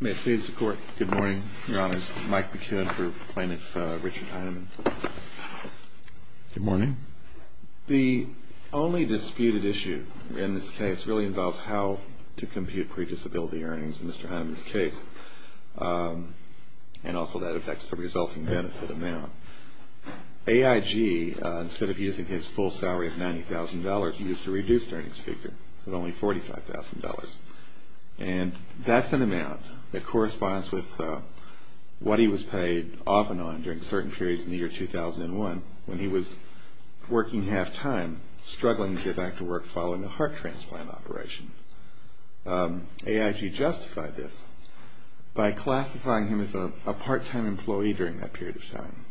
May it please the Court, good morning. Your Honor, this is Mike McKibben for Plaintiff Richard Heinemann. Good morning. The only disputed issue in this case really involves how to compute pre-disability earnings in Mr. Heinemann's case, and also that affects the resulting benefit amount. AIG, instead of using his full salary of $90,000, used a reduced earnings figure of only $45,000. And that's an amount that corresponds with what he was paid off and on during certain periods in the year 2001 when he was working half-time, struggling to get back to work following a heart transplant operation. AIG justified this by classifying him as a part-time employee during that period of time.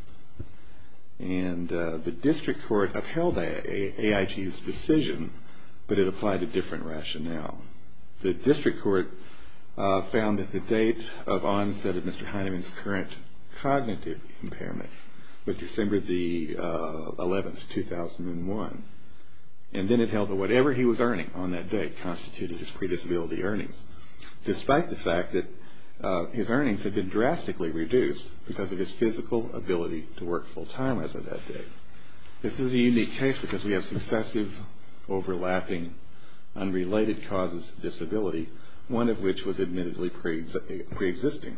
And the District Court upheld AIG's decision, but it applied a different rationale. The District Court found that the date of onset of Mr. Heinemann's current cognitive impairment was December 11, 2001. And then it held that whatever he was earning on that day constituted his pre-disability earnings, despite the fact that his earnings had been drastically reduced because of his physical ability to work full-time as of that day. This is a unique case because we have successive, overlapping, unrelated causes of disability, one of which was admittedly pre-existing.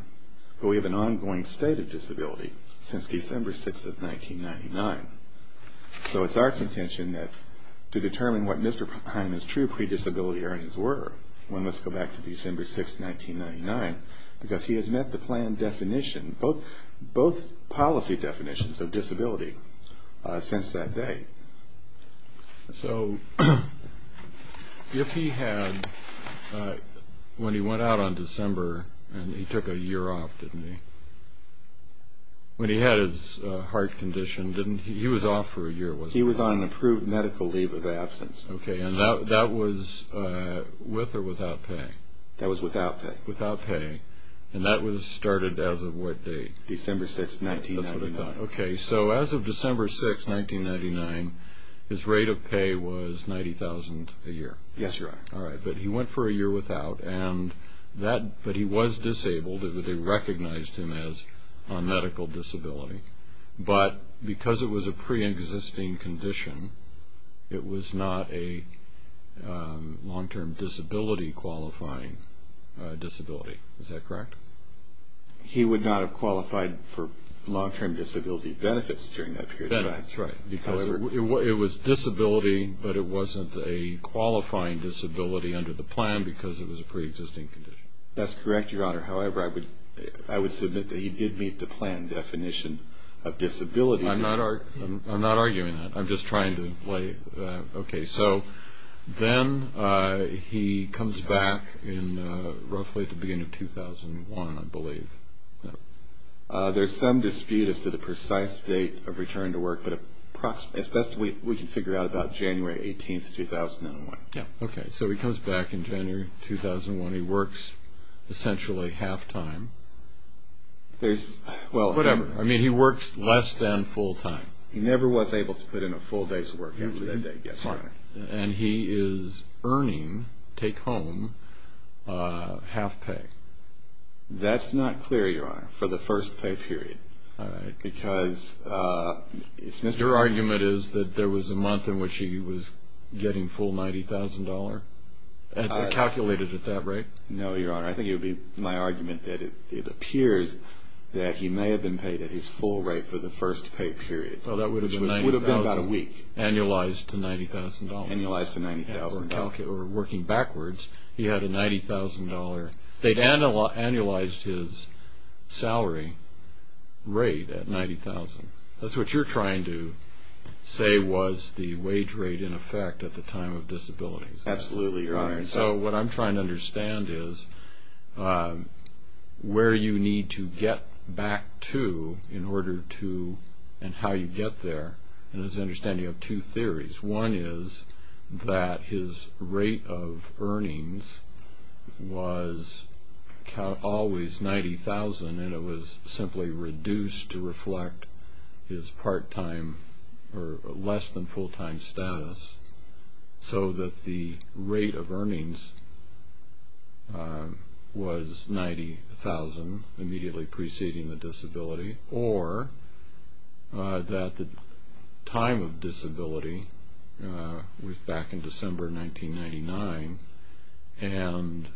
But we have an ongoing state of disability since December 6 of 1999. So it's our contention that to determine what Mr. Heinemann's true pre-disability earnings were, let's go back to December 6, 1999, because he has met the plan definition, both policy definitions of disability since that day. So if he had, when he went out on December and he took a year off, didn't he? When he had his heart conditioned, he was off for a year, wasn't he? Yes. Okay, and that was with or without pay? That was without pay. Without pay. And that was started as of what date? December 6, 1999. That's what I thought. Okay. So as of December 6, 1999, his rate of pay was $90,000 a year. Yes, Your Honor. All right. But he went for a year without, but he was disabled. They recognized him as a medical disability. But because it was a pre-existing condition, it was not a long-term disability qualifying disability. Is that correct? He would not have qualified for long-term disability benefits during that period of time. Benefits, right. Because it was disability, but it wasn't a qualifying disability under the plan because it was a pre-existing condition. That's correct, Your Honor. However, I would submit that he did meet the plan definition of disability. I'm not arguing that. I'm just trying to play. Okay, so then he comes back roughly at the beginning of 2001, I believe. Yes. There's some dispute as to the precise date of return to work, but as best we can figure out, about January 18, 2001. Yes. Okay, so he comes back in January 2001. He works essentially half-time. There's, well. Whatever. I mean, he works less than full-time. He never was able to put in a full day's work after that day. And he is earning, take home, half-pay. That's not clear, Your Honor, for the first pay period. All right. Because it's Mr. Your argument is that there was a month in which he was getting full $90,000? Calculated at that rate? No, Your Honor. I think it would be my argument that it appears that he may have been paid at his full rate for the first pay period. Which would have been about a week. Annualized to $90,000. Annualized to $90,000. Or working backwards, he had a $90,000. They'd annualized his salary rate at $90,000. That's what you're trying to say was the wage rate in effect at the time of disability. Absolutely, Your Honor. So what I'm trying to understand is where you need to get back to in order to and how you get there. And it's my understanding you have two theories. One is that his rate of earnings was always $90,000 and it was simply reduced to reflect his part-time or less than full-time status. So that the rate of earnings was $90,000 immediately preceding the disability. Or that the time of disability was back in December 1999 and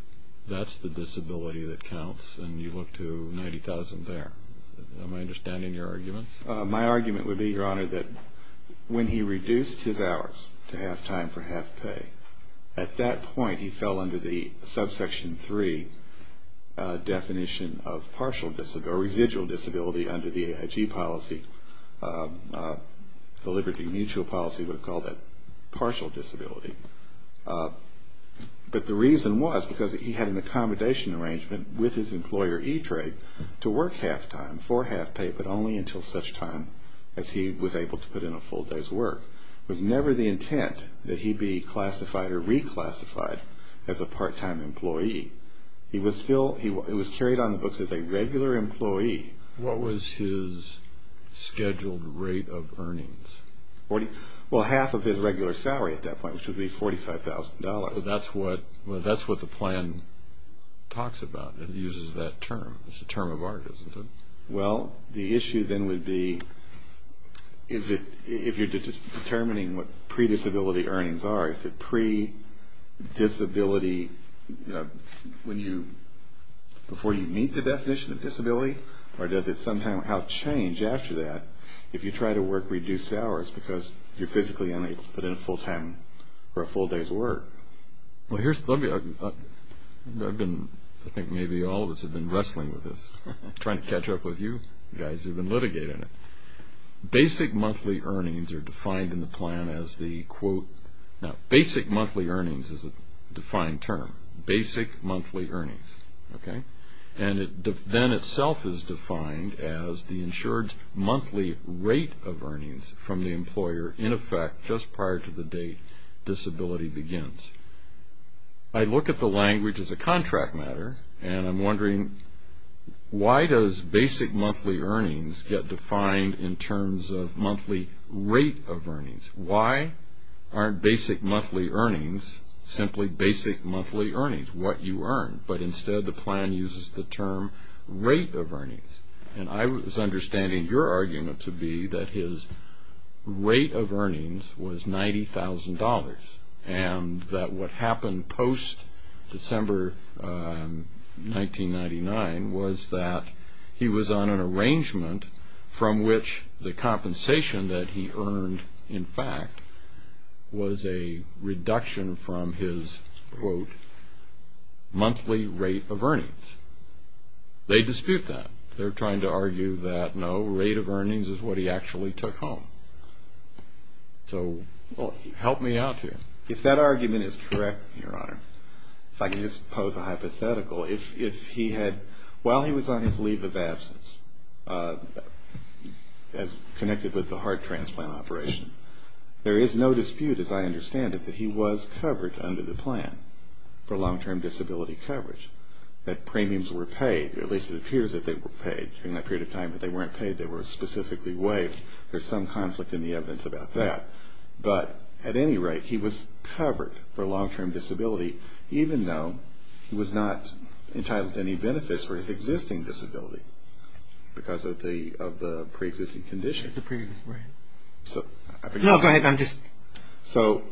that's the disability that counts and you look to $90,000 there. Am I understanding your argument? My argument would be, Your Honor, that when he reduced his hours to half-time for half-pay, at that point he fell under the Subsection 3 definition of residual disability under the AIG policy, the Liberty Mutual policy would call that partial disability. But the reason was because he had an accommodation arrangement with his as he was able to put in a full day's work. It was never the intent that he be classified or reclassified as a part-time employee. It was carried on the books as a regular employee. What was his scheduled rate of earnings? Well, half of his regular salary at that point, which would be $45,000. So that's what the plan talks about and uses that term. It's a term of art, isn't it? Well, the issue then would be if you're determining what pre-disability earnings are, is it pre-disability before you meet the definition of disability or does it somehow change after that if you try to work reduced hours because you're physically unable to put in a full time or a full day's work? Well, here's the thing. I think maybe all of us have been wrestling with this. I'm trying to catch up with you guys who have been litigating it. Basic monthly earnings are defined in the plan as the, quote, now basic monthly earnings is a defined term, basic monthly earnings. And then itself is defined as the insured's monthly rate of earnings from the employer in effect just prior to the date disability begins. I look at the language as a contract matter and I'm wondering why does basic monthly earnings get defined in terms of monthly rate of earnings? Why aren't basic monthly earnings simply basic monthly earnings, what you earn, but instead the plan uses the term rate of earnings? And I was understanding your argument to be that his rate of earnings was $90,000 and that what happened post-December 1999 was that he was on an arrangement from which the compensation that he earned, in fact, was a reduction from his, quote, monthly rate of earnings. They dispute that. They're trying to argue that, no, rate of earnings is what he actually took home. So help me out here. If that argument is correct, Your Honor, if I can just pose a hypothetical. If he had, while he was on his leave of absence, as connected with the heart transplant operation, there is no dispute, as I understand it, that he was covered under the plan for long-term disability coverage, that premiums were paid, or at least it appears that they were paid. During that period of time that they weren't paid, they were specifically waived. I think there's some conflict in the evidence about that. But at any rate, he was covered for long-term disability, even though he was not entitled to any benefits for his existing disability because of the pre-existing condition. The previous rate. No, go ahead. I'm just... So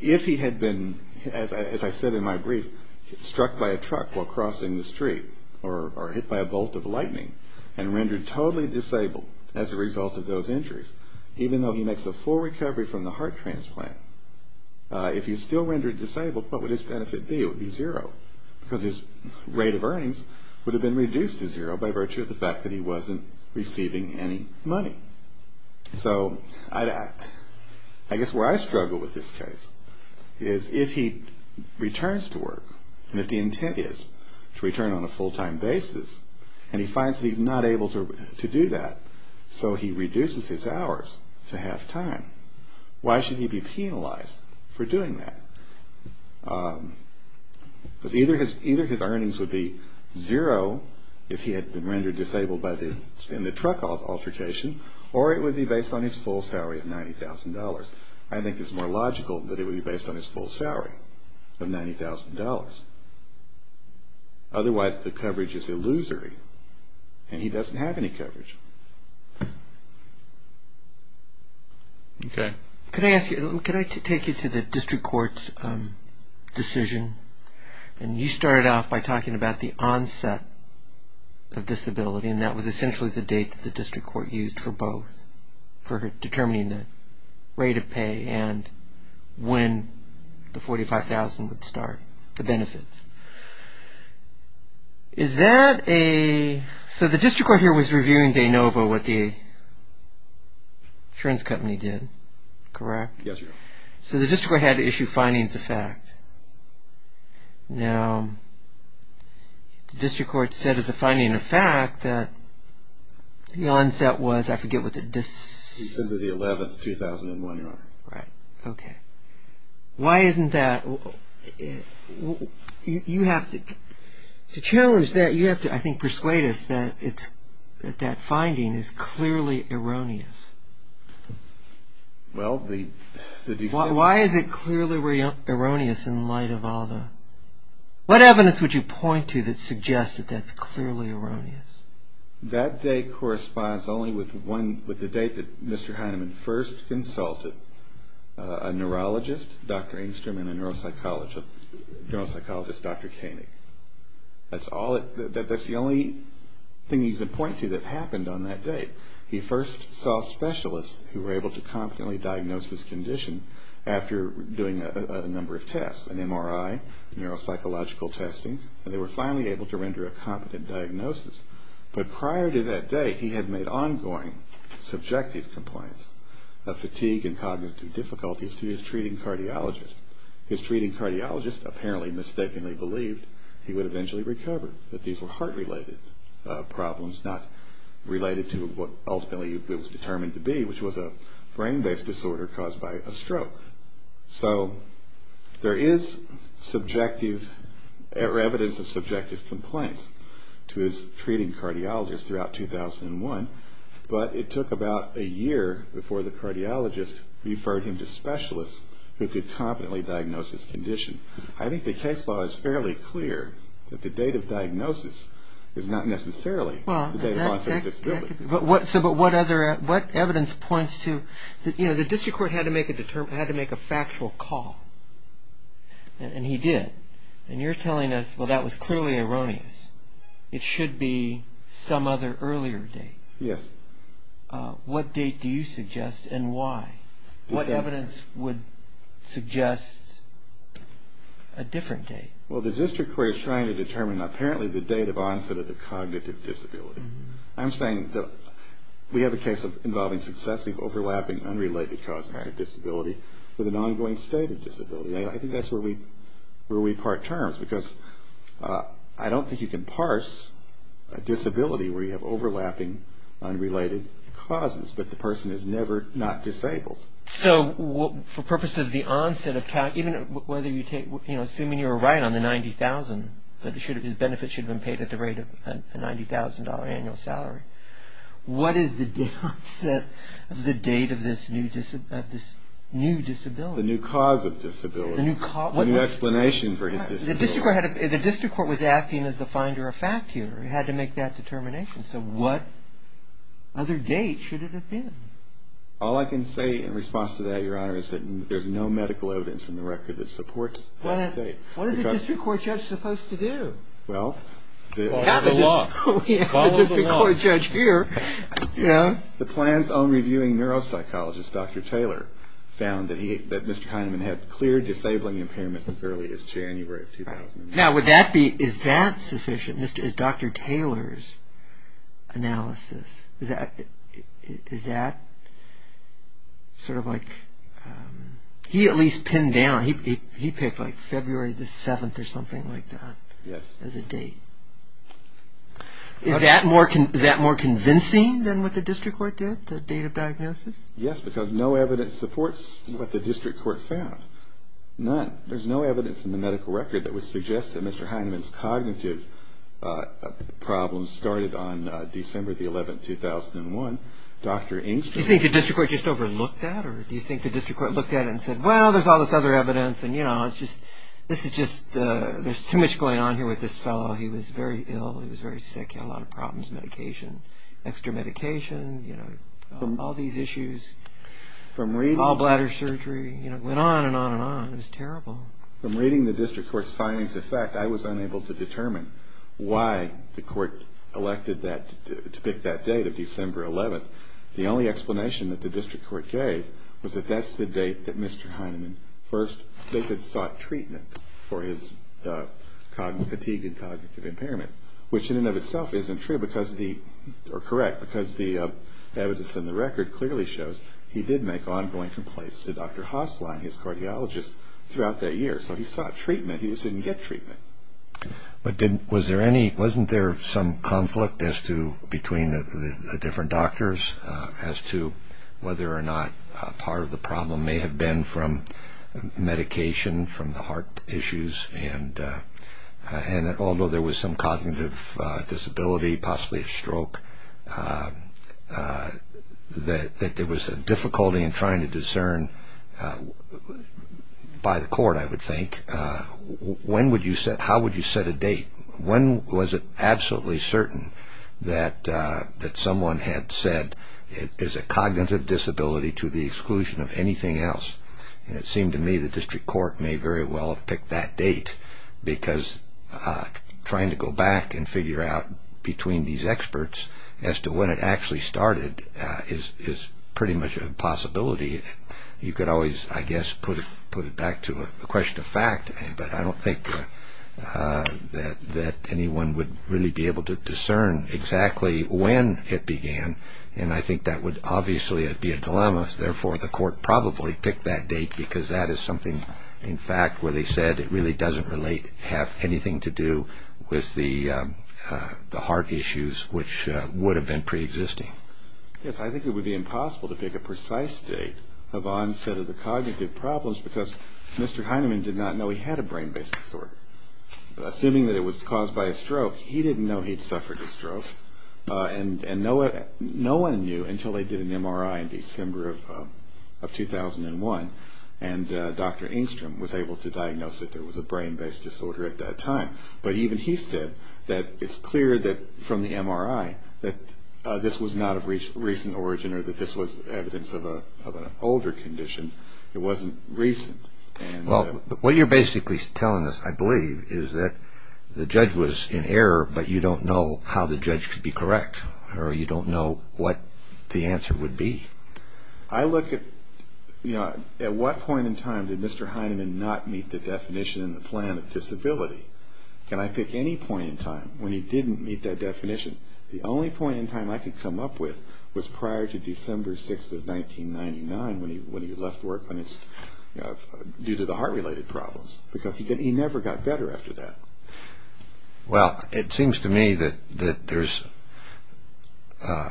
if he had been, as I said in my brief, struck by a truck while crossing the street or hit by a bolt of lightning and rendered totally disabled as a result of those injuries, even though he makes a full recovery from the heart transplant, if he's still rendered disabled, what would his benefit be? It would be zero because his rate of earnings would have been reduced to zero by virtue of the fact that he wasn't receiving any money. So I guess where I struggle with this case is if he returns to work, and if the intent is to return on a full-time basis, and he finds that he's not able to do that, so he reduces his hours to half-time, why should he be penalized for doing that? Because either his earnings would be zero if he had been rendered disabled in the truck altercation, or it would be based on his full salary of $90,000. I think it's more logical that it would be based on his full salary of $90,000. Otherwise the coverage is illusory, and he doesn't have any coverage. Okay. Could I ask you, could I take you to the district court's decision? And you started off by talking about the onset of disability, and that was essentially the date that the district court used for both, for determining the rate of pay and when the $45,000 would start, the benefits. Is that a – so the district court here was reviewing de novo what the insurance company did, correct? Yes, Your Honor. So the district court had to issue findings of fact. Now, the district court said as a finding of fact that the onset was, I forget what the – December the 11th, 2001, Your Honor. Right. Okay. Why isn't that – you have to – to challenge that, you have to, I think, persuade us that it's – that that finding is clearly erroneous. Well, the – Why is it clearly erroneous in light of all the – what evidence would you point to that suggests that that's clearly erroneous? That date corresponds only with one – with the date that Mr. Heinemann first consulted, a neurologist, Dr. Engstrom, and a neuropsychologist, Dr. Koenig. That's all – that's the only thing you could point to that happened on that date. He first saw specialists who were able to competently diagnose this condition after doing a number of tests, an MRI, neuropsychological testing, and they were finally able to render a competent diagnosis. But prior to that day, he had made ongoing subjective complaints of fatigue and cognitive difficulties to his treating cardiologist. His treating cardiologist apparently mistakenly believed he would eventually recover, that these were heart-related problems, not related to what ultimately it was determined to be, which was a brain-based disorder caused by a stroke. So there is subjective – or evidence of subjective complaints to his treating cardiologist throughout 2001, but it took about a year before the cardiologist referred him to specialists who could competently diagnose his condition. I think the case law is fairly clear that the date of diagnosis is not necessarily the date of onset of disability. But what evidence points to – you know, the district court had to make a factual call, and he did. And you're telling us, well, that was clearly erroneous. It should be some other earlier date. Yes. What date do you suggest and why? What evidence would suggest a different date? Well, the district court is trying to determine apparently the date of onset of the cognitive disability. I'm saying that we have a case involving successive overlapping unrelated causes of disability with an ongoing state of disability. I think that's where we part terms, because I don't think you can parse a disability where you have overlapping unrelated causes, but the person is never not disabled. So for purpose of the onset of – assuming you're right on the $90,000, that his benefits should have been paid at the rate of a $90,000 annual salary, what is the onset of the date of this new disability? The new cause of disability. The new cause – The new explanation for his disability. The district court was acting as the finder of fact here. It had to make that determination. So what other date should it have been? All I can say in response to that, Your Honor, is that there's no medical evidence in the record that supports that date. What is a district court judge supposed to do? Well, the – Follow the law. We have a district court judge here. The plan's own reviewing neuropsychologist, Dr. Taylor, found that Mr. Kineman had clear disabling impairments as early as January of 2009. Now, would that be – is that sufficient? Is Dr. Taylor's analysis – is that sort of like – he at least pinned down. He picked, like, February the 7th or something like that as a date. Yes. Is that more convincing than what the district court did, the date of diagnosis? Yes, because no evidence supports what the district court found. None. There's no evidence in the medical record that would suggest that Mr. Heineman's cognitive problems started on December the 11th, 2001. Dr. Engstrom – Do you think the district court just overlooked that? Or do you think the district court looked at it and said, well, there's all this other evidence and, you know, it's just – this is just – there's too much going on here with this fellow. He was very ill. He was very sick. He had a lot of problems. Medication. Extra medication. You know, all these issues. All bladder surgery. You know, it went on and on and on. It was terrible. From reading the district court's findings, in fact, I was unable to determine why the court elected that – to pick that date of December 11th. The only explanation that the district court gave was that that's the date that Mr. Heineman first – they said sought treatment for his fatigue and cognitive impairments, which in and of itself isn't true because the – or correct, because the evidence in the record clearly shows he did make ongoing complaints to Dr. Haaslein, his cardiologist, throughout that year. So he sought treatment. He just didn't get treatment. But didn't – was there any – wasn't there some conflict as to – between the different doctors as to whether or not part of the problem may have been from medication, from the heart issues, and that although there was some cognitive disability, possibly a stroke, that there was a difficulty in trying to discern by the court, I would think, when would you – how would you set a date? When was it absolutely certain that someone had said it is a cognitive disability to the exclusion of anything else? And it seemed to me the district court may very well have picked that date because trying to go back and figure out between these experts as to when it actually started is pretty much a possibility. You could always, I guess, put it back to a question of fact, but I don't think that anyone would really be able to discern exactly when it began, and therefore the court probably picked that date because that is something, in fact, where they said it really doesn't relate, have anything to do with the heart issues, which would have been preexisting. Yes, I think it would be impossible to pick a precise date of onset of the cognitive problems because Mr. Heinemann did not know he had a brain-based disorder. Assuming that it was caused by a stroke, he didn't know he'd suffered a stroke, and no one knew until they did an MRI in December of 2001, and Dr. Engstrom was able to diagnose that there was a brain-based disorder at that time. But even he said that it's clear from the MRI that this was not of recent origin or that this was evidence of an older condition. It wasn't recent. Well, what you're basically telling us, I believe, is that the judge was in error, but you don't know how the judge could be correct, or you don't know what the answer would be. I look at, you know, at what point in time did Mr. Heinemann not meet the definition in the plan of disability? Can I pick any point in time when he didn't meet that definition? The only point in time I could come up with was prior to December 6th of 1999 when he left work due to the heart-related problems because he never got better after that. Well, it seems to me that there's a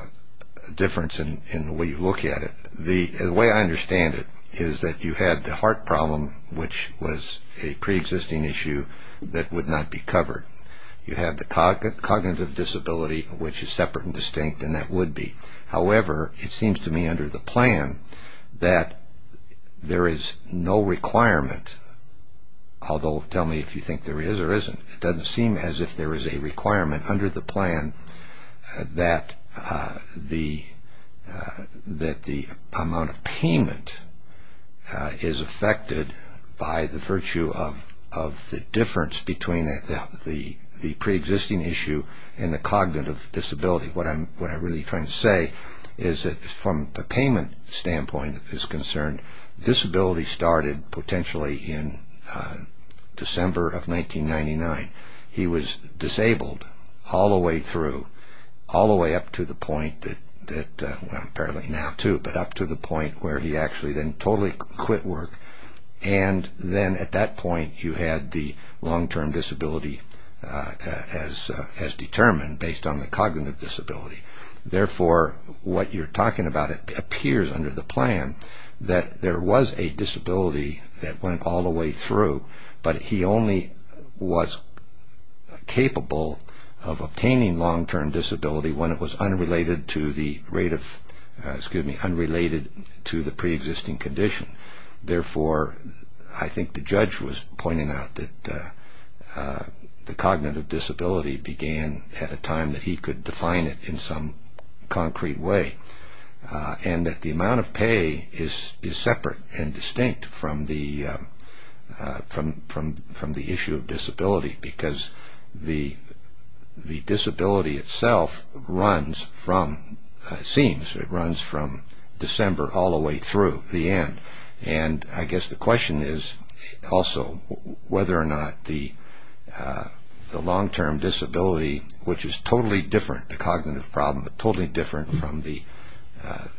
difference in the way you look at it. The way I understand it is that you had the heart problem, which was a preexisting issue that would not be covered. You had the cognitive disability, which is separate and distinct, and that would be. However, it seems to me under the plan that there is no requirement, although tell me if you think there is or isn't, it doesn't seem as if there is a requirement under the plan that the amount of payment is affected by the virtue of the difference between the preexisting issue and the cognitive disability. What I'm really trying to say is that from the payment standpoint is concerned, disability started potentially in December of 1999. He was disabled all the way through, all the way up to the point that, apparently now too, but up to the point where he actually then totally quit work, and then at that point you had the long-term disability as determined based on the cognitive disability. Therefore, what you're talking about appears under the plan that there was a disability that went all the way through, but he only was capable of obtaining long-term disability when it was unrelated to the rate of, excuse me, unrelated to the preexisting condition. Therefore, I think the judge was pointing out that the cognitive disability began at a time that he could define it in some concrete way, and that the amount of pay is separate and distinct from the issue of disability because the disability itself runs from, it seems, it runs from December all the way through the end. I guess the question is also whether or not the long-term disability, which is totally different, the cognitive problem, totally different from the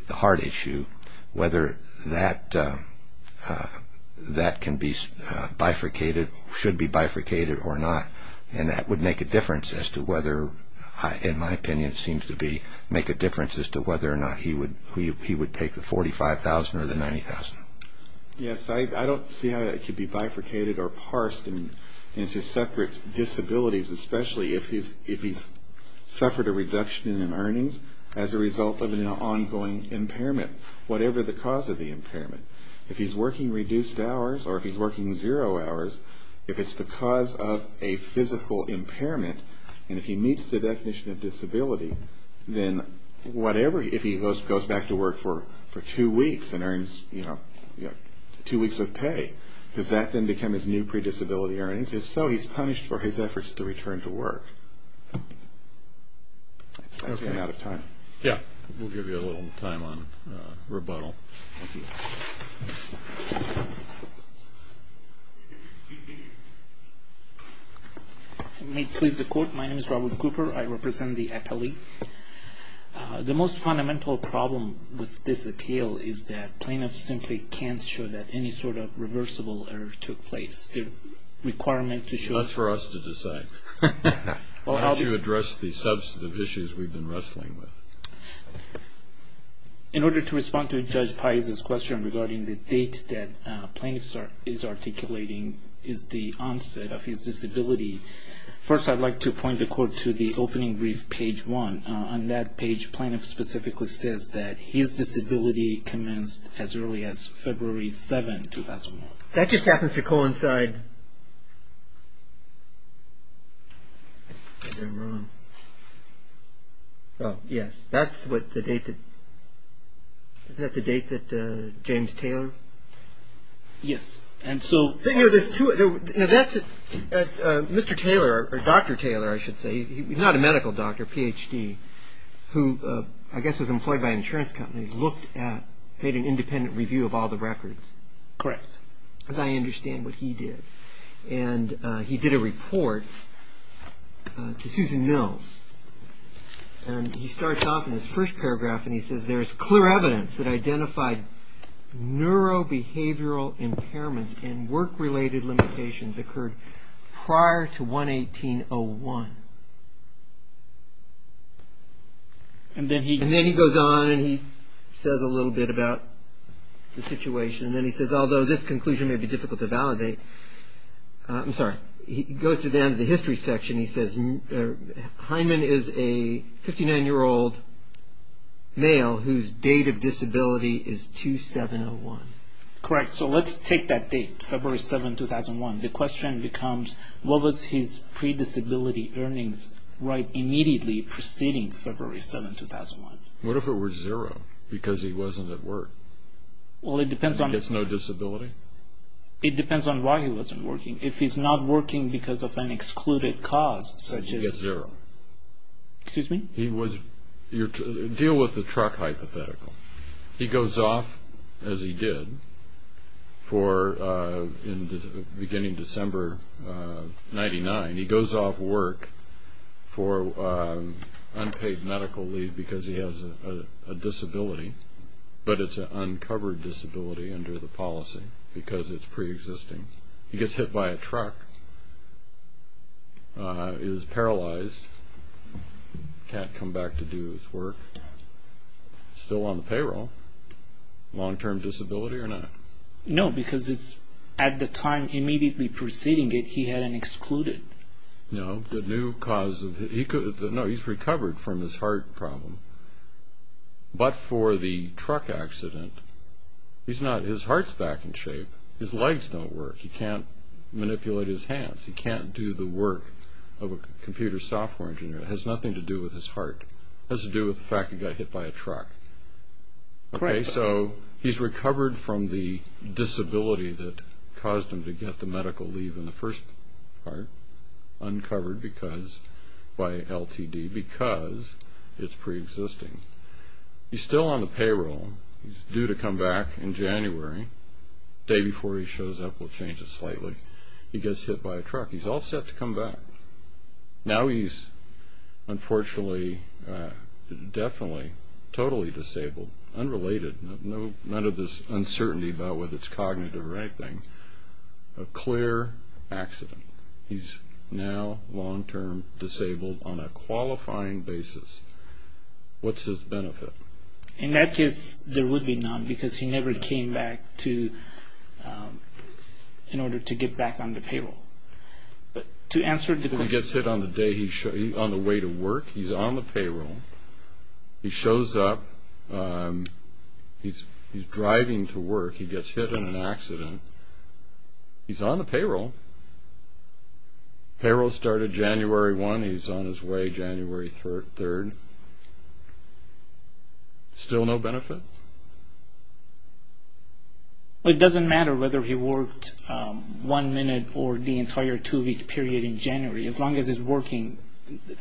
heart issue, whether that can be bifurcated, should be bifurcated or not, and that would make a difference as to whether, in my opinion it seems to be, make a difference as to whether or not he would take the $45,000 or the $90,000. Yes, I don't see how that could be bifurcated or parsed into separate disabilities, especially if he's suffered a reduction in earnings as a result of an ongoing impairment, whatever the cause of the impairment. If he's working reduced hours or if he's working zero hours, if it's because of a physical impairment, and if he meets the definition of disability, then whatever, if he goes back to work for two weeks and earns two weeks of pay, does that then become his new predisability earnings? If so, he's punished for his efforts to return to work. I've run out of time. Yes, we'll give you a little time on rebuttal. May it please the Court, my name is Robert Cooper. I represent the appellee. The most fundamental problem with this appeal is that plaintiffs simply can't show that any sort of reversible error took place. That's for us to decide. Why don't you address the substantive issues we've been wrestling with? In order to respond to Judge Pais' question regarding the date that plaintiffs are articulating is the onset of his disability, first I'd like to point the Court to the opening brief, page one. On that page, plaintiff specifically says that his disability commenced as early as February 7, 2001. That just happens to coincide, is that wrong? Oh, yes, that's what the date that, isn't that the date that James Taylor? Yes, and so. Mr. Taylor, or Dr. Taylor I should say, he's not a medical doctor, PhD, who I guess was employed by an insurance company, looked at, made an independent review of all the records. Correct. Because I understand what he did. And he did a report to Susan Mills, and he starts off in his first paragraph and he says, there's clear evidence that identified neurobehavioral impairments and work-related limitations occurred prior to 118-01. And then he goes on and he says a little bit about the situation, and then he says, although this conclusion may be difficult to validate, I'm sorry, he goes to the end of the history section and he says, Hyman is a 59-year-old male whose date of disability is 2-7-0-1. Correct, so let's take that date, February 7, 2001. The question becomes, what was his predisability earnings right immediately preceding February 7, 2001? What if it were zero, because he wasn't at work? Well, it depends on... He gets no disability? It depends on why he wasn't working. If he's not working because of an excluded cause, such as... He gets zero. Excuse me? Deal with the truck hypothetical. He goes off, as he did, for, beginning December 99, he goes off work for unpaid medical leave because he has a disability, but it's an uncovered disability under the policy because it's preexisting. He gets hit by a truck, is paralyzed, can't come back to do his work, still on the payroll. Long-term disability or not? No, because it's at the time immediately preceding it, he had an excluded. No, the new cause of... No, he's recovered from his heart problem. But for the truck accident, he's not... His heart's back in shape. His legs don't work. He can't manipulate his hands. He can't do the work of a computer software engineer. It has nothing to do with his heart. It has to do with the fact he got hit by a truck. Okay, so he's recovered from the disability that caused him to get the medical leave in the first part, uncovered by LTD because it's preexisting. He's still on the payroll. He's due to come back in January. The day before he shows up, we'll change it slightly. He gets hit by a truck. He's all set to come back. Now he's, unfortunately, definitely totally disabled, unrelated, none of this uncertainty about whether it's cognitive or anything, a clear accident. He's now long-term disabled on a qualifying basis. What's his benefit? In that case, there would be none because he never came back in order to get back on the payroll. But to answer the question... He gets hit on the way to work. He's on the payroll. He shows up. He's driving to work. He gets hit in an accident. He's on the payroll. Payroll started January 1. He's on his way January 3. Still no benefit? It doesn't matter whether he worked one minute or the entire two-week period in January. As long as he's working,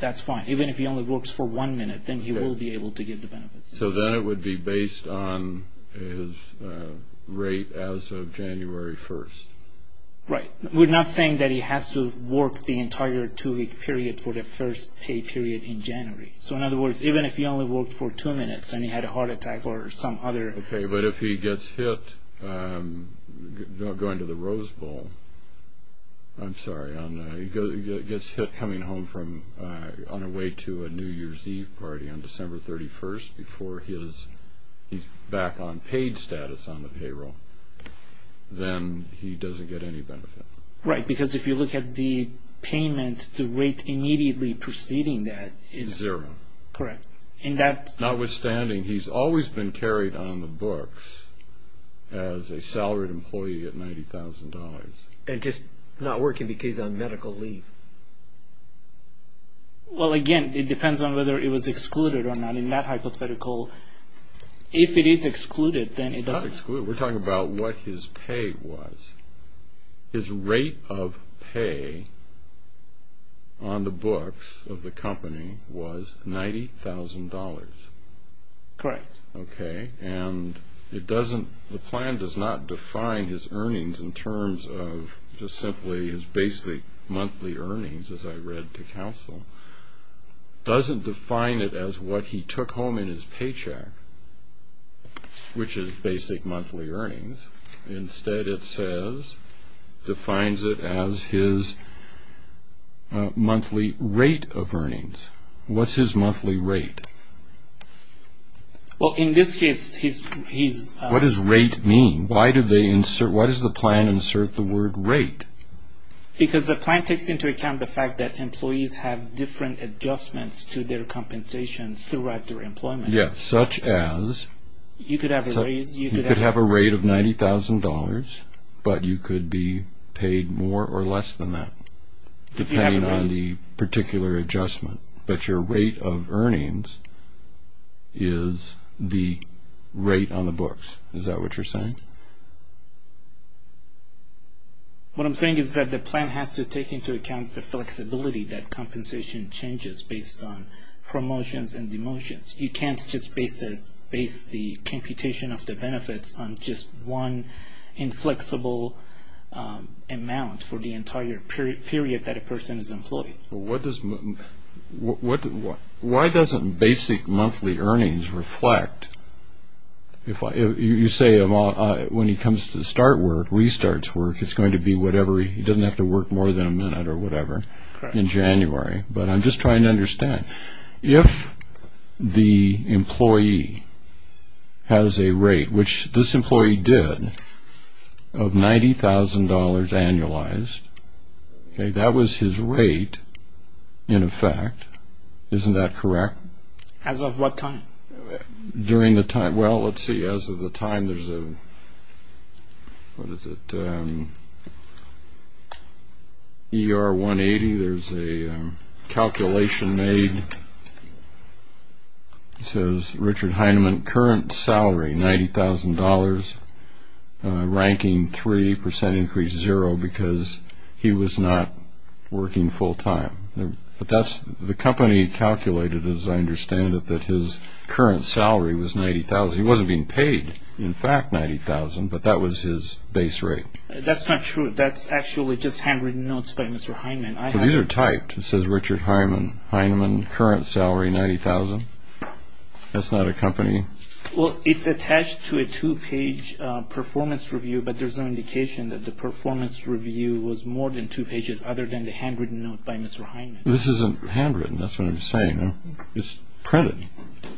that's fine. Even if he only works for one minute, then he will be able to get the benefits. So then it would be based on his rate as of January 1. Right. We're not saying that he has to work the entire two-week period for the first pay period in January. So, in other words, even if he only worked for two minutes and he had a heart attack or some other... Okay, but if he gets hit going to the Rose Bowl, I'm sorry, and he gets hit coming home on the way to a New Year's Eve party on December 31st before he's back on paid status on the payroll, then he doesn't get any benefit. Right, because if you look at the payment, the rate immediately preceding that is... Zero. Correct. Notwithstanding, he's always been carried on the books as a salaried employee at $90,000. And just not working because on medical leave. Well, again, it depends on whether it was excluded or not. In that hypothetical, if it is excluded, then it doesn't... It's not excluded. We're talking about what his pay was. His rate of pay on the books of the company was $90,000. Correct. Okay, and the plan does not define his earnings in terms of just simply his basic monthly earnings, as I read to counsel. It doesn't define it as what he took home in his paycheck, which is basic monthly earnings. Instead, it says, defines it as his monthly rate of earnings. What's his monthly rate? Well, in this case, his... What does rate mean? Why does the plan insert the word rate? Because the plan takes into account the fact that employees have different adjustments to their compensation throughout their employment. Yes, such as... You could have a raise, you could have... You could have a rate of $90,000, but you could be paid more or less than that, depending on the particular adjustment. But your rate of earnings is the rate on the books. Is that what you're saying? What I'm saying is that the plan has to take into account the flexibility that compensation changes based on promotions and demotions. You can't just base the computation of the benefits on just one inflexible amount for the entire period that a person is employed. Well, what does... Why doesn't basic monthly earnings reflect... You say when he comes to start work, restarts work, it's going to be whatever... He doesn't have to work more than a minute or whatever in January. But I'm just trying to understand. If the employee has a rate, which this employee did, of $90,000 annualized, that was his rate, in effect. Isn't that correct? As of what time? During the time... Well, let's see. As of the time there's a... What is it? ER-180, there's a calculation made. It says Richard Heinemann, current salary, $90,000, ranking 3%, increase 0% because he was not working full-time. But that's... The company calculated, as I understand it, that his current salary was $90,000. He wasn't being paid, in fact, $90,000, but that was his base rate. That's not true. That's actually just handwritten notes by Mr. Heinemann. These are typed. It says Richard Heinemann, current salary, $90,000. That's not a company... Well, it's attached to a two-page performance review, but there's no indication that the performance review was more than two pages other than the handwritten note by Mr. Heinemann. This isn't handwritten. That's what I'm saying. It's printed.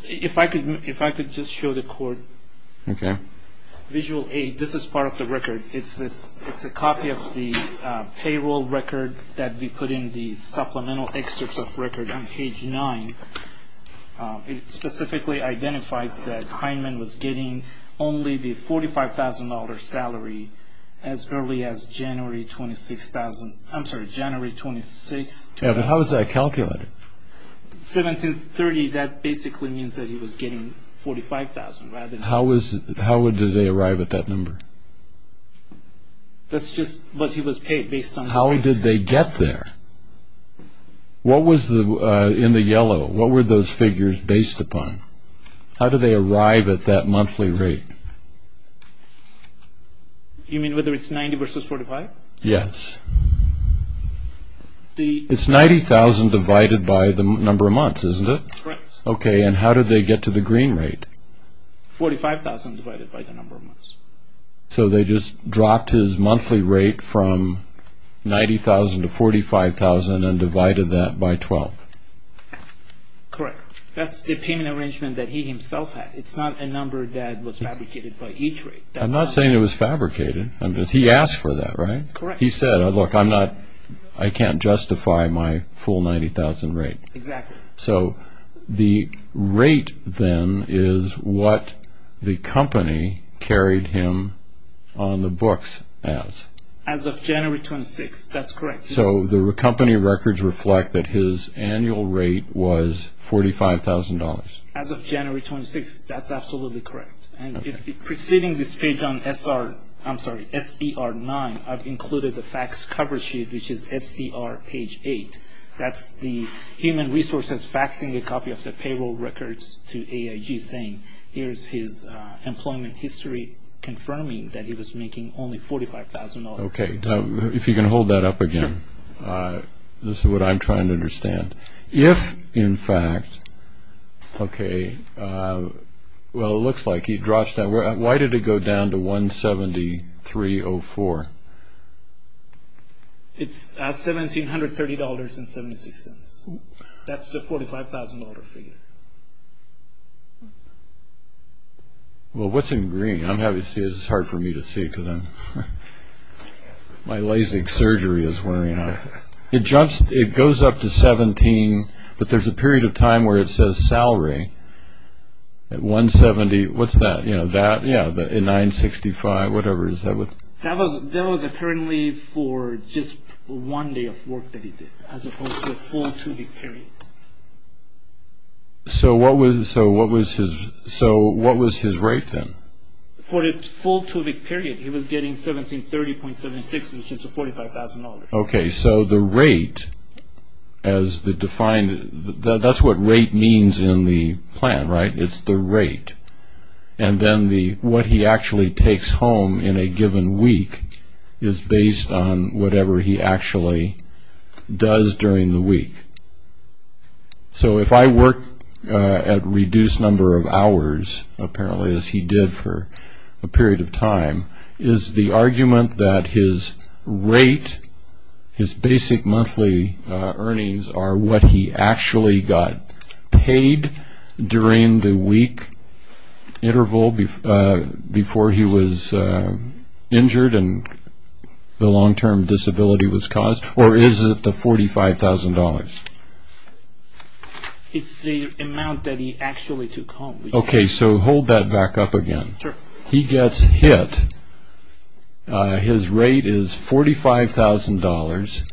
If I could just show the court... Okay. Visual 8, this is part of the record. It's a copy of the payroll record that we put in the supplemental excerpts of record on page 9. It specifically identifies that Heinemann was getting only the $45,000 salary as early as January 26, 2000. Yeah, but how is that calculated? 1730, that basically means that he was getting $45,000 rather than... How did they arrive at that number? That's just what he was paid based on... How did they get there? What was in the yellow? What were those figures based upon? How did they arrive at that monthly rate? You mean whether it's 90 versus 45? Yes. It's $90,000 divided by the number of months, isn't it? Correct. Okay, and how did they get to the green rate? $45,000 divided by the number of months. So they just dropped his monthly rate from $90,000 to $45,000 and divided that by 12. Correct. That's the payment arrangement that he himself had. It's not a number that was fabricated by each rate. I'm not saying it was fabricated. He asked for that, right? Correct. He said, look, I can't justify my full $90,000 rate. Exactly. So the rate, then, is what the company carried him on the books as. As of January 26th. That's correct. So the company records reflect that his annual rate was $45,000. As of January 26th. That's absolutely correct. And preceding this page on SDR-9, I've included the fax cover sheet, which is SDR page 8. That's the human resources faxing a copy of the payroll records to AIG, saying here's his employment history confirming that he was making only $45,000. Okay. If you can hold that up again. Sure. This is what I'm trying to understand. If, in fact, okay, well, it looks like he dropped that. Why did it go down to $173.04? It's $1,730.76. That's the $45,000 figure. Well, what's in green? It's hard for me to see because my Lasik surgery is wearing off. It goes up to $17, but there's a period of time where it says salary at $170. What's that? You know, that? Yeah, $965, whatever. That was apparently for just one day of work that he did, as opposed to a full two-week period. So what was his rate then? For the full two-week period, he was getting $1730.76, which is $45,000. Okay, so the rate, that's what rate means in the plan, right? It's the rate. And then what he actually takes home in a given week is based on whatever he actually does during the week. So if I work at reduced number of hours, apparently, as he did for a period of time, is the argument that his rate, his basic monthly earnings, are what he actually got paid during the week interval before he was injured and the long-term disability was caused, or is it the $45,000? It's the amount that he actually took home. Okay, so hold that back up again. Sure. He gets hit. His rate is $45,000.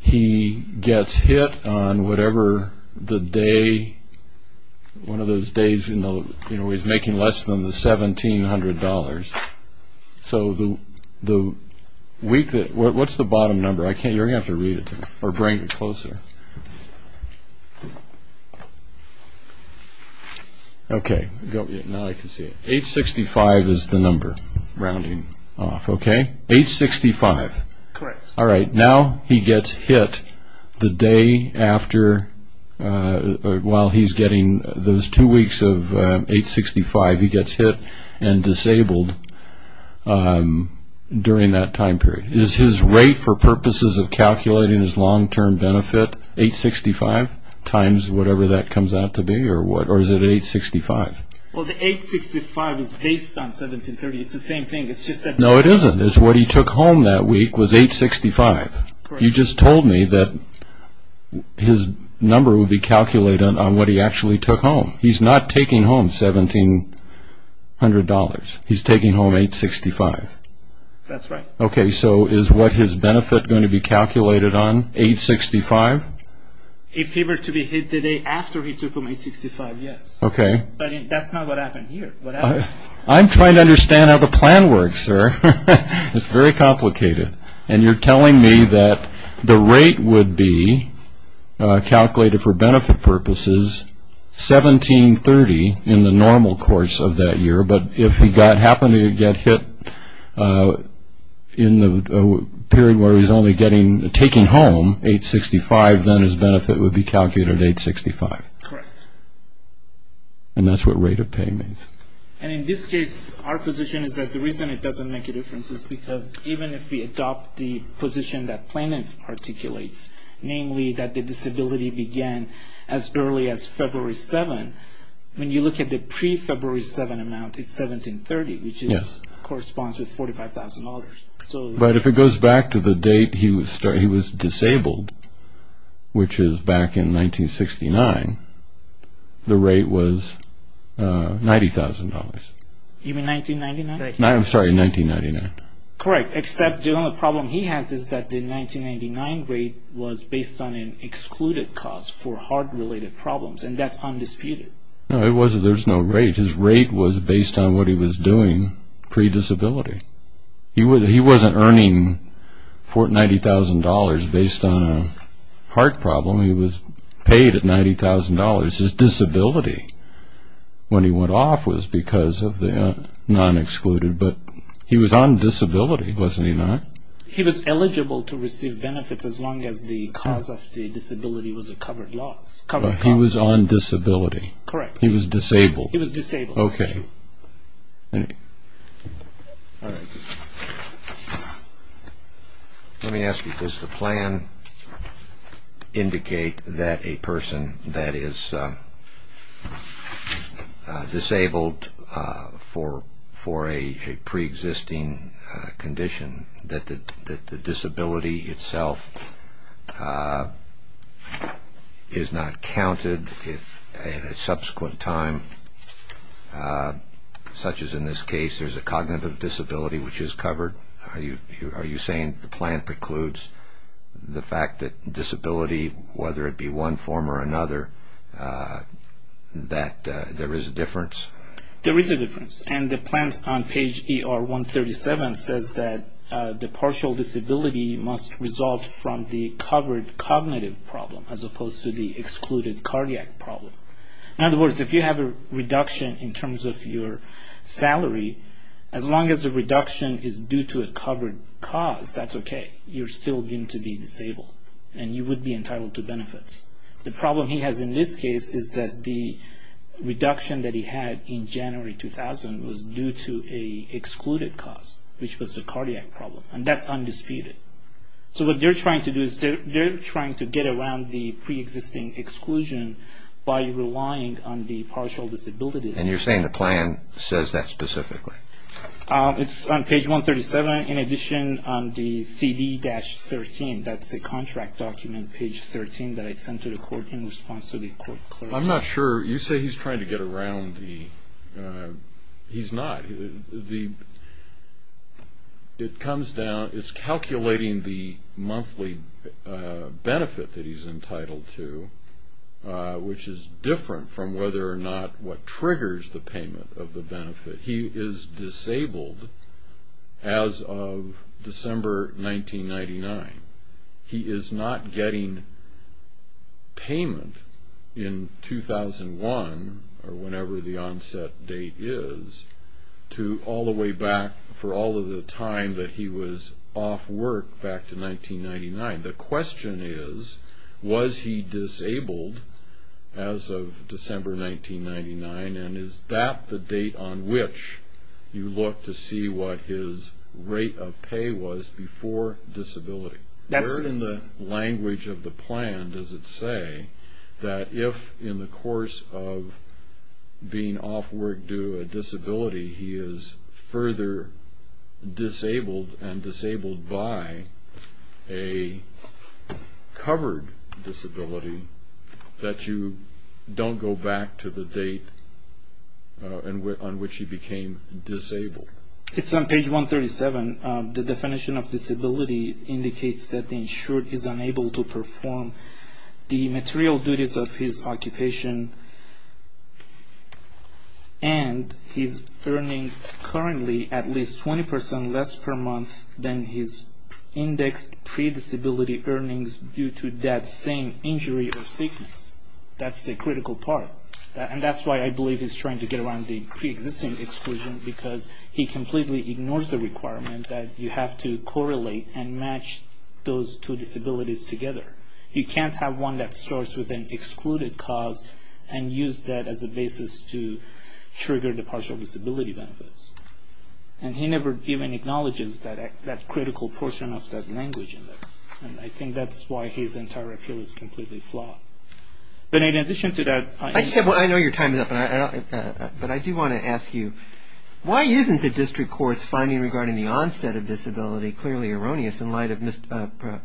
He gets hit on whatever the day, one of those days, you know, he's making less than the $1,700. So the week that, what's the bottom number? I can't, you're going to have to read it to me, or bring it closer. Okay, now I can see it. $865,000 is the number rounding off. Okay, $865,000. Correct. All right, now he gets hit the day after, while he's getting those two weeks of $865,000, he gets hit and disabled during that time period. Is his rate, for purposes of calculating his long-term benefit, $865,000 times whatever that comes out to be, or is it $865,000? Well, the $865,000 is based on $1,730,000. It's the same thing. No, it isn't. What he took home that week was $865,000. You just told me that his number would be calculated on what he actually took home. He's not taking home $1,700. He's taking home $865,000. That's right. Okay, so is what his benefit going to be calculated on $865,000? If he were to be hit the day after he took home $865,000, yes. Okay. But that's not what happened here. I'm trying to understand how the plan works, sir. It's very complicated. And you're telling me that the rate would be calculated for benefit purposes $1,730,000 in the normal course of that year, but if he happened to get hit in the period where he's only taking home $865,000, then his benefit would be calculated at $865,000. Correct. And that's what rate of pay means. And in this case, our position is that the reason it doesn't make a difference is because even if we adopt the position that Plano articulates, namely that the disability began as early as February 7, when you look at the pre-February 7 amount, it's $1,730,000, which corresponds with $45,000. But if it goes back to the date he was disabled, which is back in 1969, the rate was $90,000. You mean 1999? I'm sorry, 1999. Correct, except the only problem he has is that the 1999 rate was based on an excluded cause for heart-related problems, and that's undisputed. No, it wasn't. There was no rate. His rate was based on what he was doing pre-disability. He wasn't earning $90,000 based on a heart problem. He was paid at $90,000. His disability when he went off was because of the nonexcluded, but he was on disability, wasn't he not? He was eligible to receive benefits as long as the cause of the disability was a covered loss. He was on disability. Correct. He was disabled. He was disabled. Okay. Let me ask you, does the plan indicate that a person that is disabled for a pre-existing condition, that the disability itself is not counted if at a subsequent time, such as in this case, there's a cognitive disability which is covered? Are you saying the plan precludes the fact that disability, whether it be one form or another, that there is a difference? There is a difference. And the plan on page ER 137 says that the partial disability must result from the covered cognitive problem as opposed to the excluded cardiac problem. In other words, if you have a reduction in terms of your salary, as long as the reduction is due to a covered cause, that's okay. You're still going to be disabled and you would be entitled to benefits. The problem he has in this case is that the reduction that he had in January 2000 was due to an excluded cause, which was the cardiac problem, and that's undisputed. So what they're trying to do is they're trying to get around the pre-existing exclusion by relying on the partial disability. And you're saying the plan says that specifically? It's on page 137. In addition, on the CD-13, that's a contract document, page 13, that I sent to the court in response to the court clerks. I'm not sure. You say he's trying to get around the – he's not. It comes down – it's calculating the monthly benefit that he's entitled to, which is different from whether or not what triggers the payment of the benefit. He is disabled as of December 1999. He is not getting payment in 2001, or whenever the onset date is, to all the way back for all of the time that he was off work back to 1999. The question is, was he disabled as of December 1999, and is that the date on which you look to see what his rate of pay was before disability? That's in the language of the plan, does it say, that if in the course of being off work due to a disability, he is further disabled and disabled by a covered disability, that you don't go back to the date on which he became disabled? It's on page 137. The definition of disability indicates that the insured is unable to perform the material duties of his occupation and he's earning currently at least 20% less per month than his indexed pre-disability earnings due to that same injury or sickness. That's the critical part, and that's why I believe he's trying to get around the pre-existing exclusion because he completely ignores the requirement that you have to correlate and match those two disabilities together. You can't have one that starts with an excluded cause and use that as a basis to trigger the partial disability benefits. And he never even acknowledges that critical portion of that language. And I think that's why his entire appeal is completely flawed. But in addition to that... I know your time is up, but I do want to ask you, why isn't the district court's finding regarding the onset of disability clearly erroneous in light of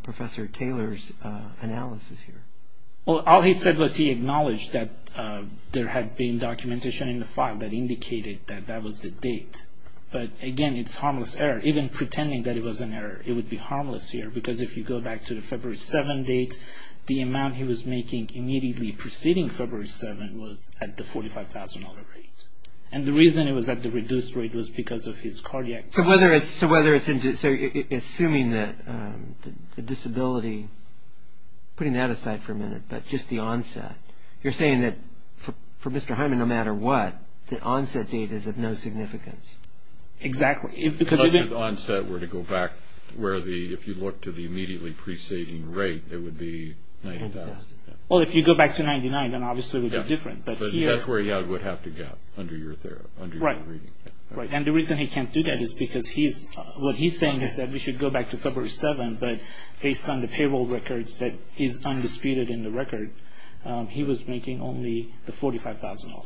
Professor Taylor's analysis here? All he said was he acknowledged that there had been documentation in the file that indicated that that was the date. But again, it's a harmless error. Even pretending that it was an error, it would be harmless here because if you go back to the February 7 date, the amount he was making immediately preceding February 7 was at the $45,000 rate. And the reason it was at the reduced rate was because of his cardiac... So assuming that the disability... Putting that aside for a minute, but just the onset, you're saying that for Mr. Hyman, no matter what, the onset date is of no significance? Exactly. If the onset were to go back, if you look to the immediately preceding rate, it would be $90,000. Well, if you go back to $99,000, then obviously it would be different. But that's where he would have to go under your reading. Right. And the reason he can't do that is because he's... What he's saying is that we should go back to February 7, but based on the payroll records that is undisputed in the record, he was making only the $45,000.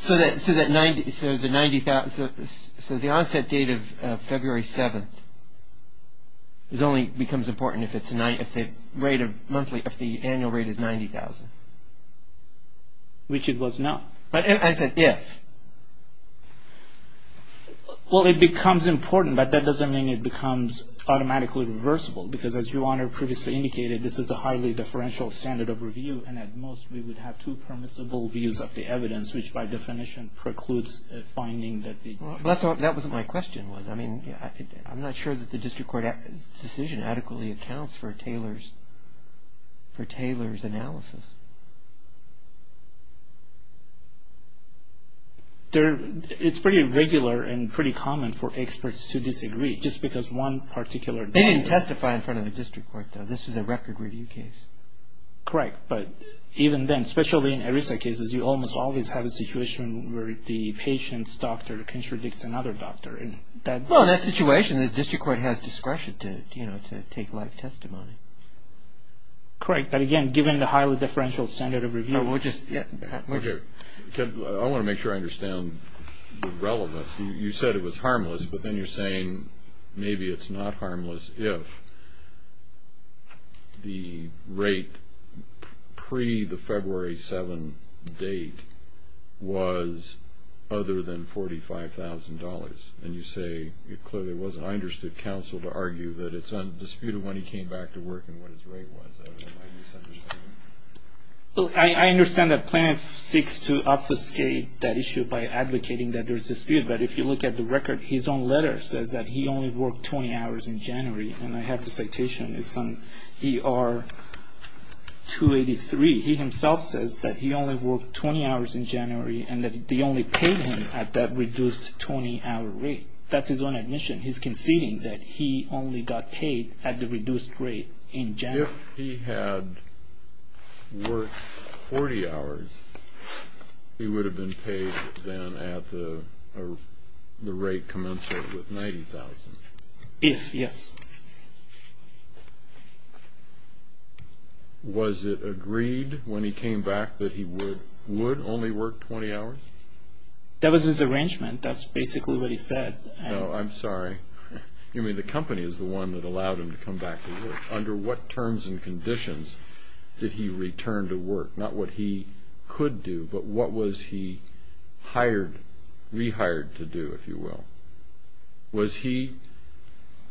So the onset date of February 7 only becomes important if the rate of monthly... if the annual rate is $90,000? Which it was not. I said if. Well, it becomes important, but that doesn't mean it becomes automatically reversible because as Your Honor previously indicated, this is a highly differential standard of review, and at most we would have two permissible views of the evidence, which by definition precludes finding that the... That wasn't my question. I'm not sure that the district court decision adequately accounts for Taylor's analysis. It's pretty regular and pretty common for experts to disagree just because one particular doctor... They didn't testify in front of the district court, though. This is a record review case. Correct, but even then, especially in ERISA cases, you almost always have a situation where the patient's doctor contradicts another doctor. Well, in that situation, the district court has discretion to take live testimony. Correct, but again, given the highly differential standard of review... No, we'll just... I want to make sure I understand the relevance. You said it was harmless, but then you're saying maybe it's not harmless if the rate pre the February 7 date was other than $45,000, and you say it clearly wasn't. I understood counsel to argue that it's undisputed when he came back to work and what his rate was. I understand that plaintiff seeks to obfuscate that issue by advocating that there's dispute, but if you look at the record, his own letter says that he only worked 20 hours in January, and I have the citation. It's on ER-283. He himself says that he only worked 20 hours in January and that they only paid him at that reduced 20-hour rate. That's his own admission. He's conceding that he only got paid at the reduced rate in January. If he had worked 40 hours, he would have been paid then at the rate commensurate with $90,000. If, yes. Was it agreed when he came back that he would only work 20 hours? That was his arrangement. That's basically what he said. No, I'm sorry. You mean the company is the one that allowed him to come back to work. Under what terms and conditions did he return to work? Not what he could do, but what was he hired, rehired to do, if you will? Was he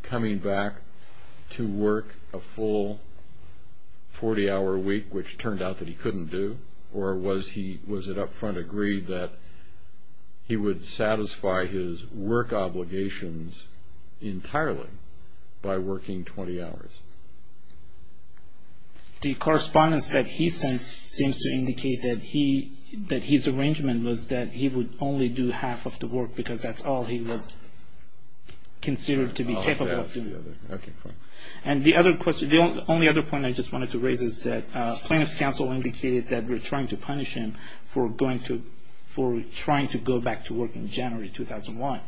coming back to work a full 40-hour week, which turned out that he couldn't do, or was it up front agreed that he would satisfy his work obligations entirely by working 20 hours? The correspondence that he sent seems to indicate that his arrangement was that he would only do half of the work because that's all he was considered to be capable of doing. Oh, that's the other. Okay, fine. And the only other point I just wanted to raise is that plaintiff's counsel indicated that we're trying to punish him for trying to go back to work in January 2001.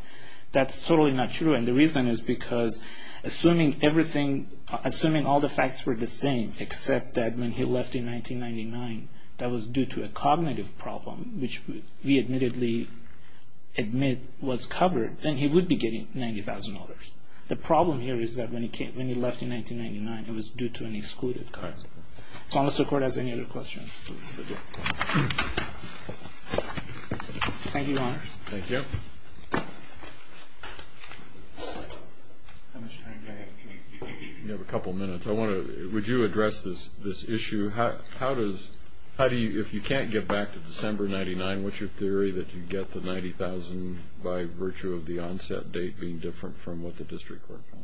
That's totally not true, and the reason is because assuming all the facts were the same except that when he left in 1999, that was due to a cognitive problem, which we admittedly admit was covered, then he would be getting $90,000. The problem here is that when he left in 1999, it was due to an excluded card. So unless the Court has any other questions. Thank you, Your Honor. Thank you. Mr. Frank, go ahead. You have a couple minutes. Would you address this issue? If you can't get back to December 1999, what's your theory that you get the $90,000 by virtue of the onset date being different from what the district court found?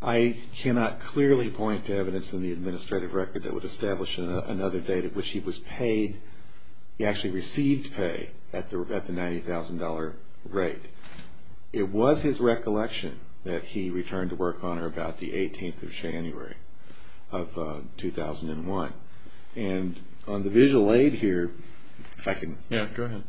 I cannot clearly point to evidence in the administrative record that would establish another date at which he was paid. He actually received pay at the $90,000 rate. It was his recollection that he returned to work on or about the 18th of January of 2001. And on the visual aid here, if I can. Yeah, go ahead.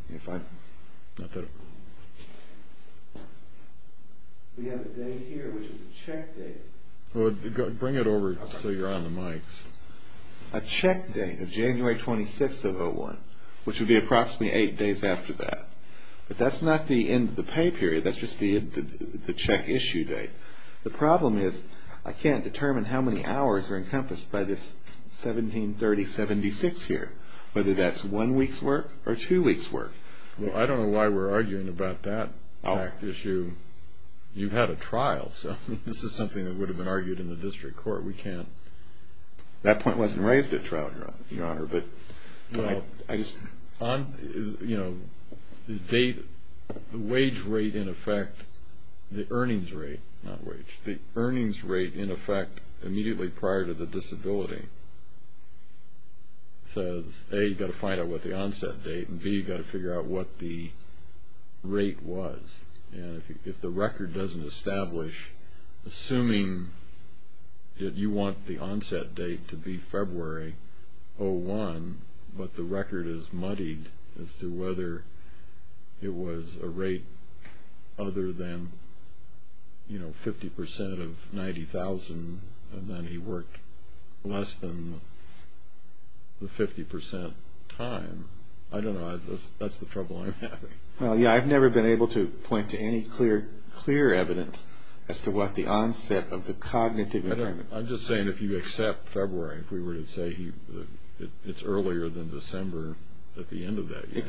We have a date here, which is a check date. Bring it over so you're on the mic. A check date of January 26th of 2001, which would be approximately eight days after that. But that's not the end of the pay period. That's just the check issue date. The problem is I can't determine how many hours are encompassed by this 1730-76 here, whether that's one week's work or two weeks' work. Well, I don't know why we're arguing about that issue. You had a trial, so this is something that would have been argued in the district court. We can't. That point wasn't raised at trial, Your Honor. The wage rate, in effect, the earnings rate, not wage, the earnings rate, in effect, immediately prior to the disability, says, A, you've got to find out what the onset date, and, B, you've got to figure out what the rate was. And if the record doesn't establish, assuming that you want the onset date to be February 01, but the record is muddied as to whether it was a rate other than 50% of 90,000 and then he worked less than the 50% time, I don't know. That's the trouble I'm having. Well, yeah, I've never been able to point to any clear evidence as to what the onset of the cognitive impairment. I'm just saying if you accept February, if we were to say it's earlier than December at the end of that year.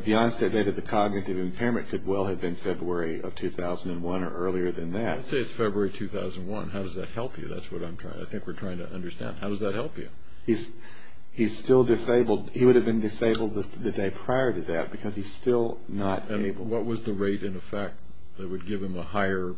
The onset date of the cognitive impairment could well have been February of 2001 or earlier than that. I'd say it's February 2001. How does that help you? That's what I'm trying to, I think we're trying to understand. How does that help you? He's still disabled. He would have been disabled the day prior to that because he's still not able. And what was the rate, in effect, that would give him a higher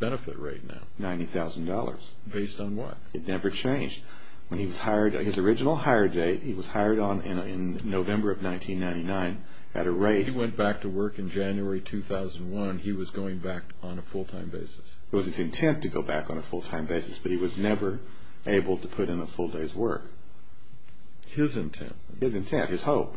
benefit rate now? $90,000. Based on what? It never changed. When he was hired, his original hire date, he was hired in November of 1999 at a rate. The day he went back to work in January 2001, he was going back on a full-time basis. It was his intent to go back on a full-time basis, but he was never able to put in a full day's work. His intent. His intent, his hope.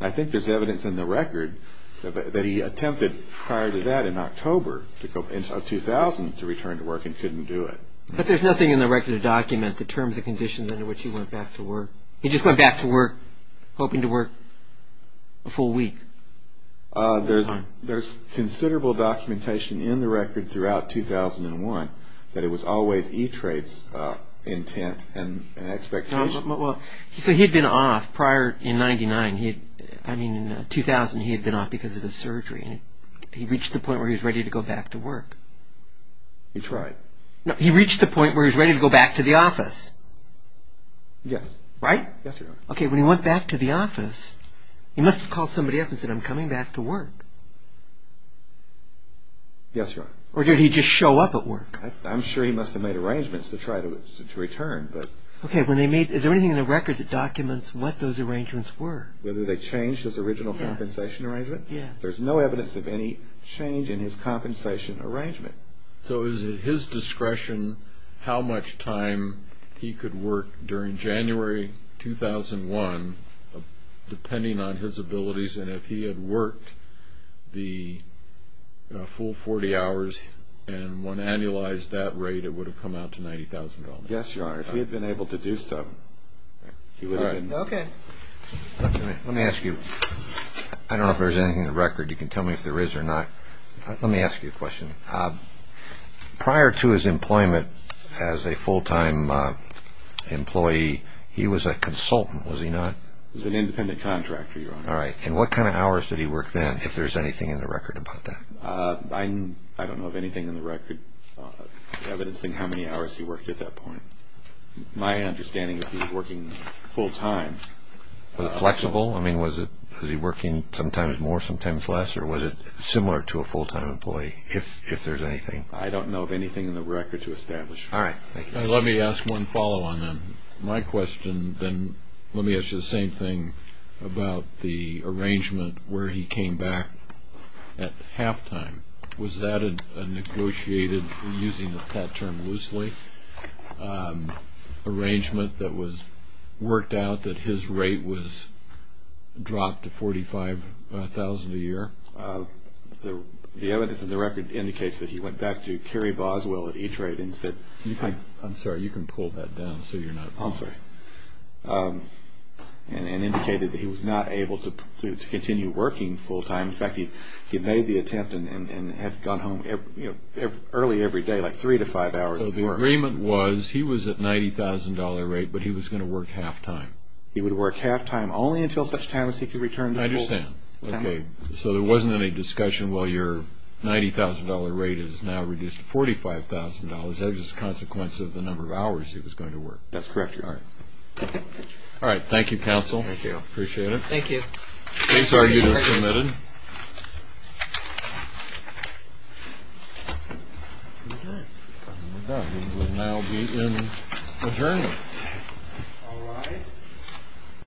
I think there's evidence in the record that he attempted prior to that in October of 2000 to return to work and couldn't do it. But there's nothing in the record to document the terms and conditions under which he went back to work. He just went back to work hoping to work a full week. There's considerable documentation in the record throughout 2001 that it was always E-Trades intent and expectation. So he had been off prior in 1999. I mean, in 2000, he had been off because of his surgery. He reached the point where he was ready to go back to work. He tried. No, he reached the point where he was ready to go back to the office. Yes. Right? Yes, Your Honor. Okay, when he went back to the office, he must have called somebody up and said, I'm coming back to work. Yes, Your Honor. Or did he just show up at work? I'm sure he must have made arrangements to try to return. Okay, is there anything in the record that documents what those arrangements were? Whether they changed his original compensation arrangement? Yes. There's no evidence of any change in his compensation arrangement. So is it his discretion how much time he could work during January 2001, depending on his abilities, and if he had worked the full 40 hours and one annualized that rate, it would have come out to $90,000? Yes, Your Honor. If he had been able to do so, he would have been. Okay. Let me ask you, I don't know if there's anything in the record. You can tell me if there is or not. Let me ask you a question. Prior to his employment as a full-time employee, he was a consultant, was he not? He was an independent contractor, Your Honor. All right, and what kind of hours did he work then, if there's anything in the record about that? I don't know of anything in the record evidencing how many hours he worked at that point. My understanding is he was working full-time. Was it flexible? I mean, was he working sometimes more, sometimes less, or was it similar to a full-time employee, if there's anything? I don't know of anything in the record to establish. All right. Thank you. Let me ask one follow-on then. My question then, let me ask you the same thing about the arrangement where he came back at halftime. Was that a negotiated, using that term loosely, arrangement that was worked out that his rate was dropped to $45,000 a year? The evidence in the record indicates that he went back to Kerry Boswell at E-Trade and said – I'm sorry, you can pull that down so you're not – I'm sorry. And indicated that he was not able to continue working full-time. In fact, he made the attempt and had gone home early every day, like three to five hours. So the agreement was he was at $90,000 rate, but he was going to work halftime. He would work halftime only until such time as he could return to full-time. I understand. Okay. So there wasn't any discussion, well, your $90,000 rate is now reduced to $45,000. That was just a consequence of the number of hours he was going to work. That's correct, Your Honor. All right. All right. Thank you, counsel. Thank you. Appreciate it. Thank you. Case argued as submitted. Okay. We will now be in adjournment. All rise.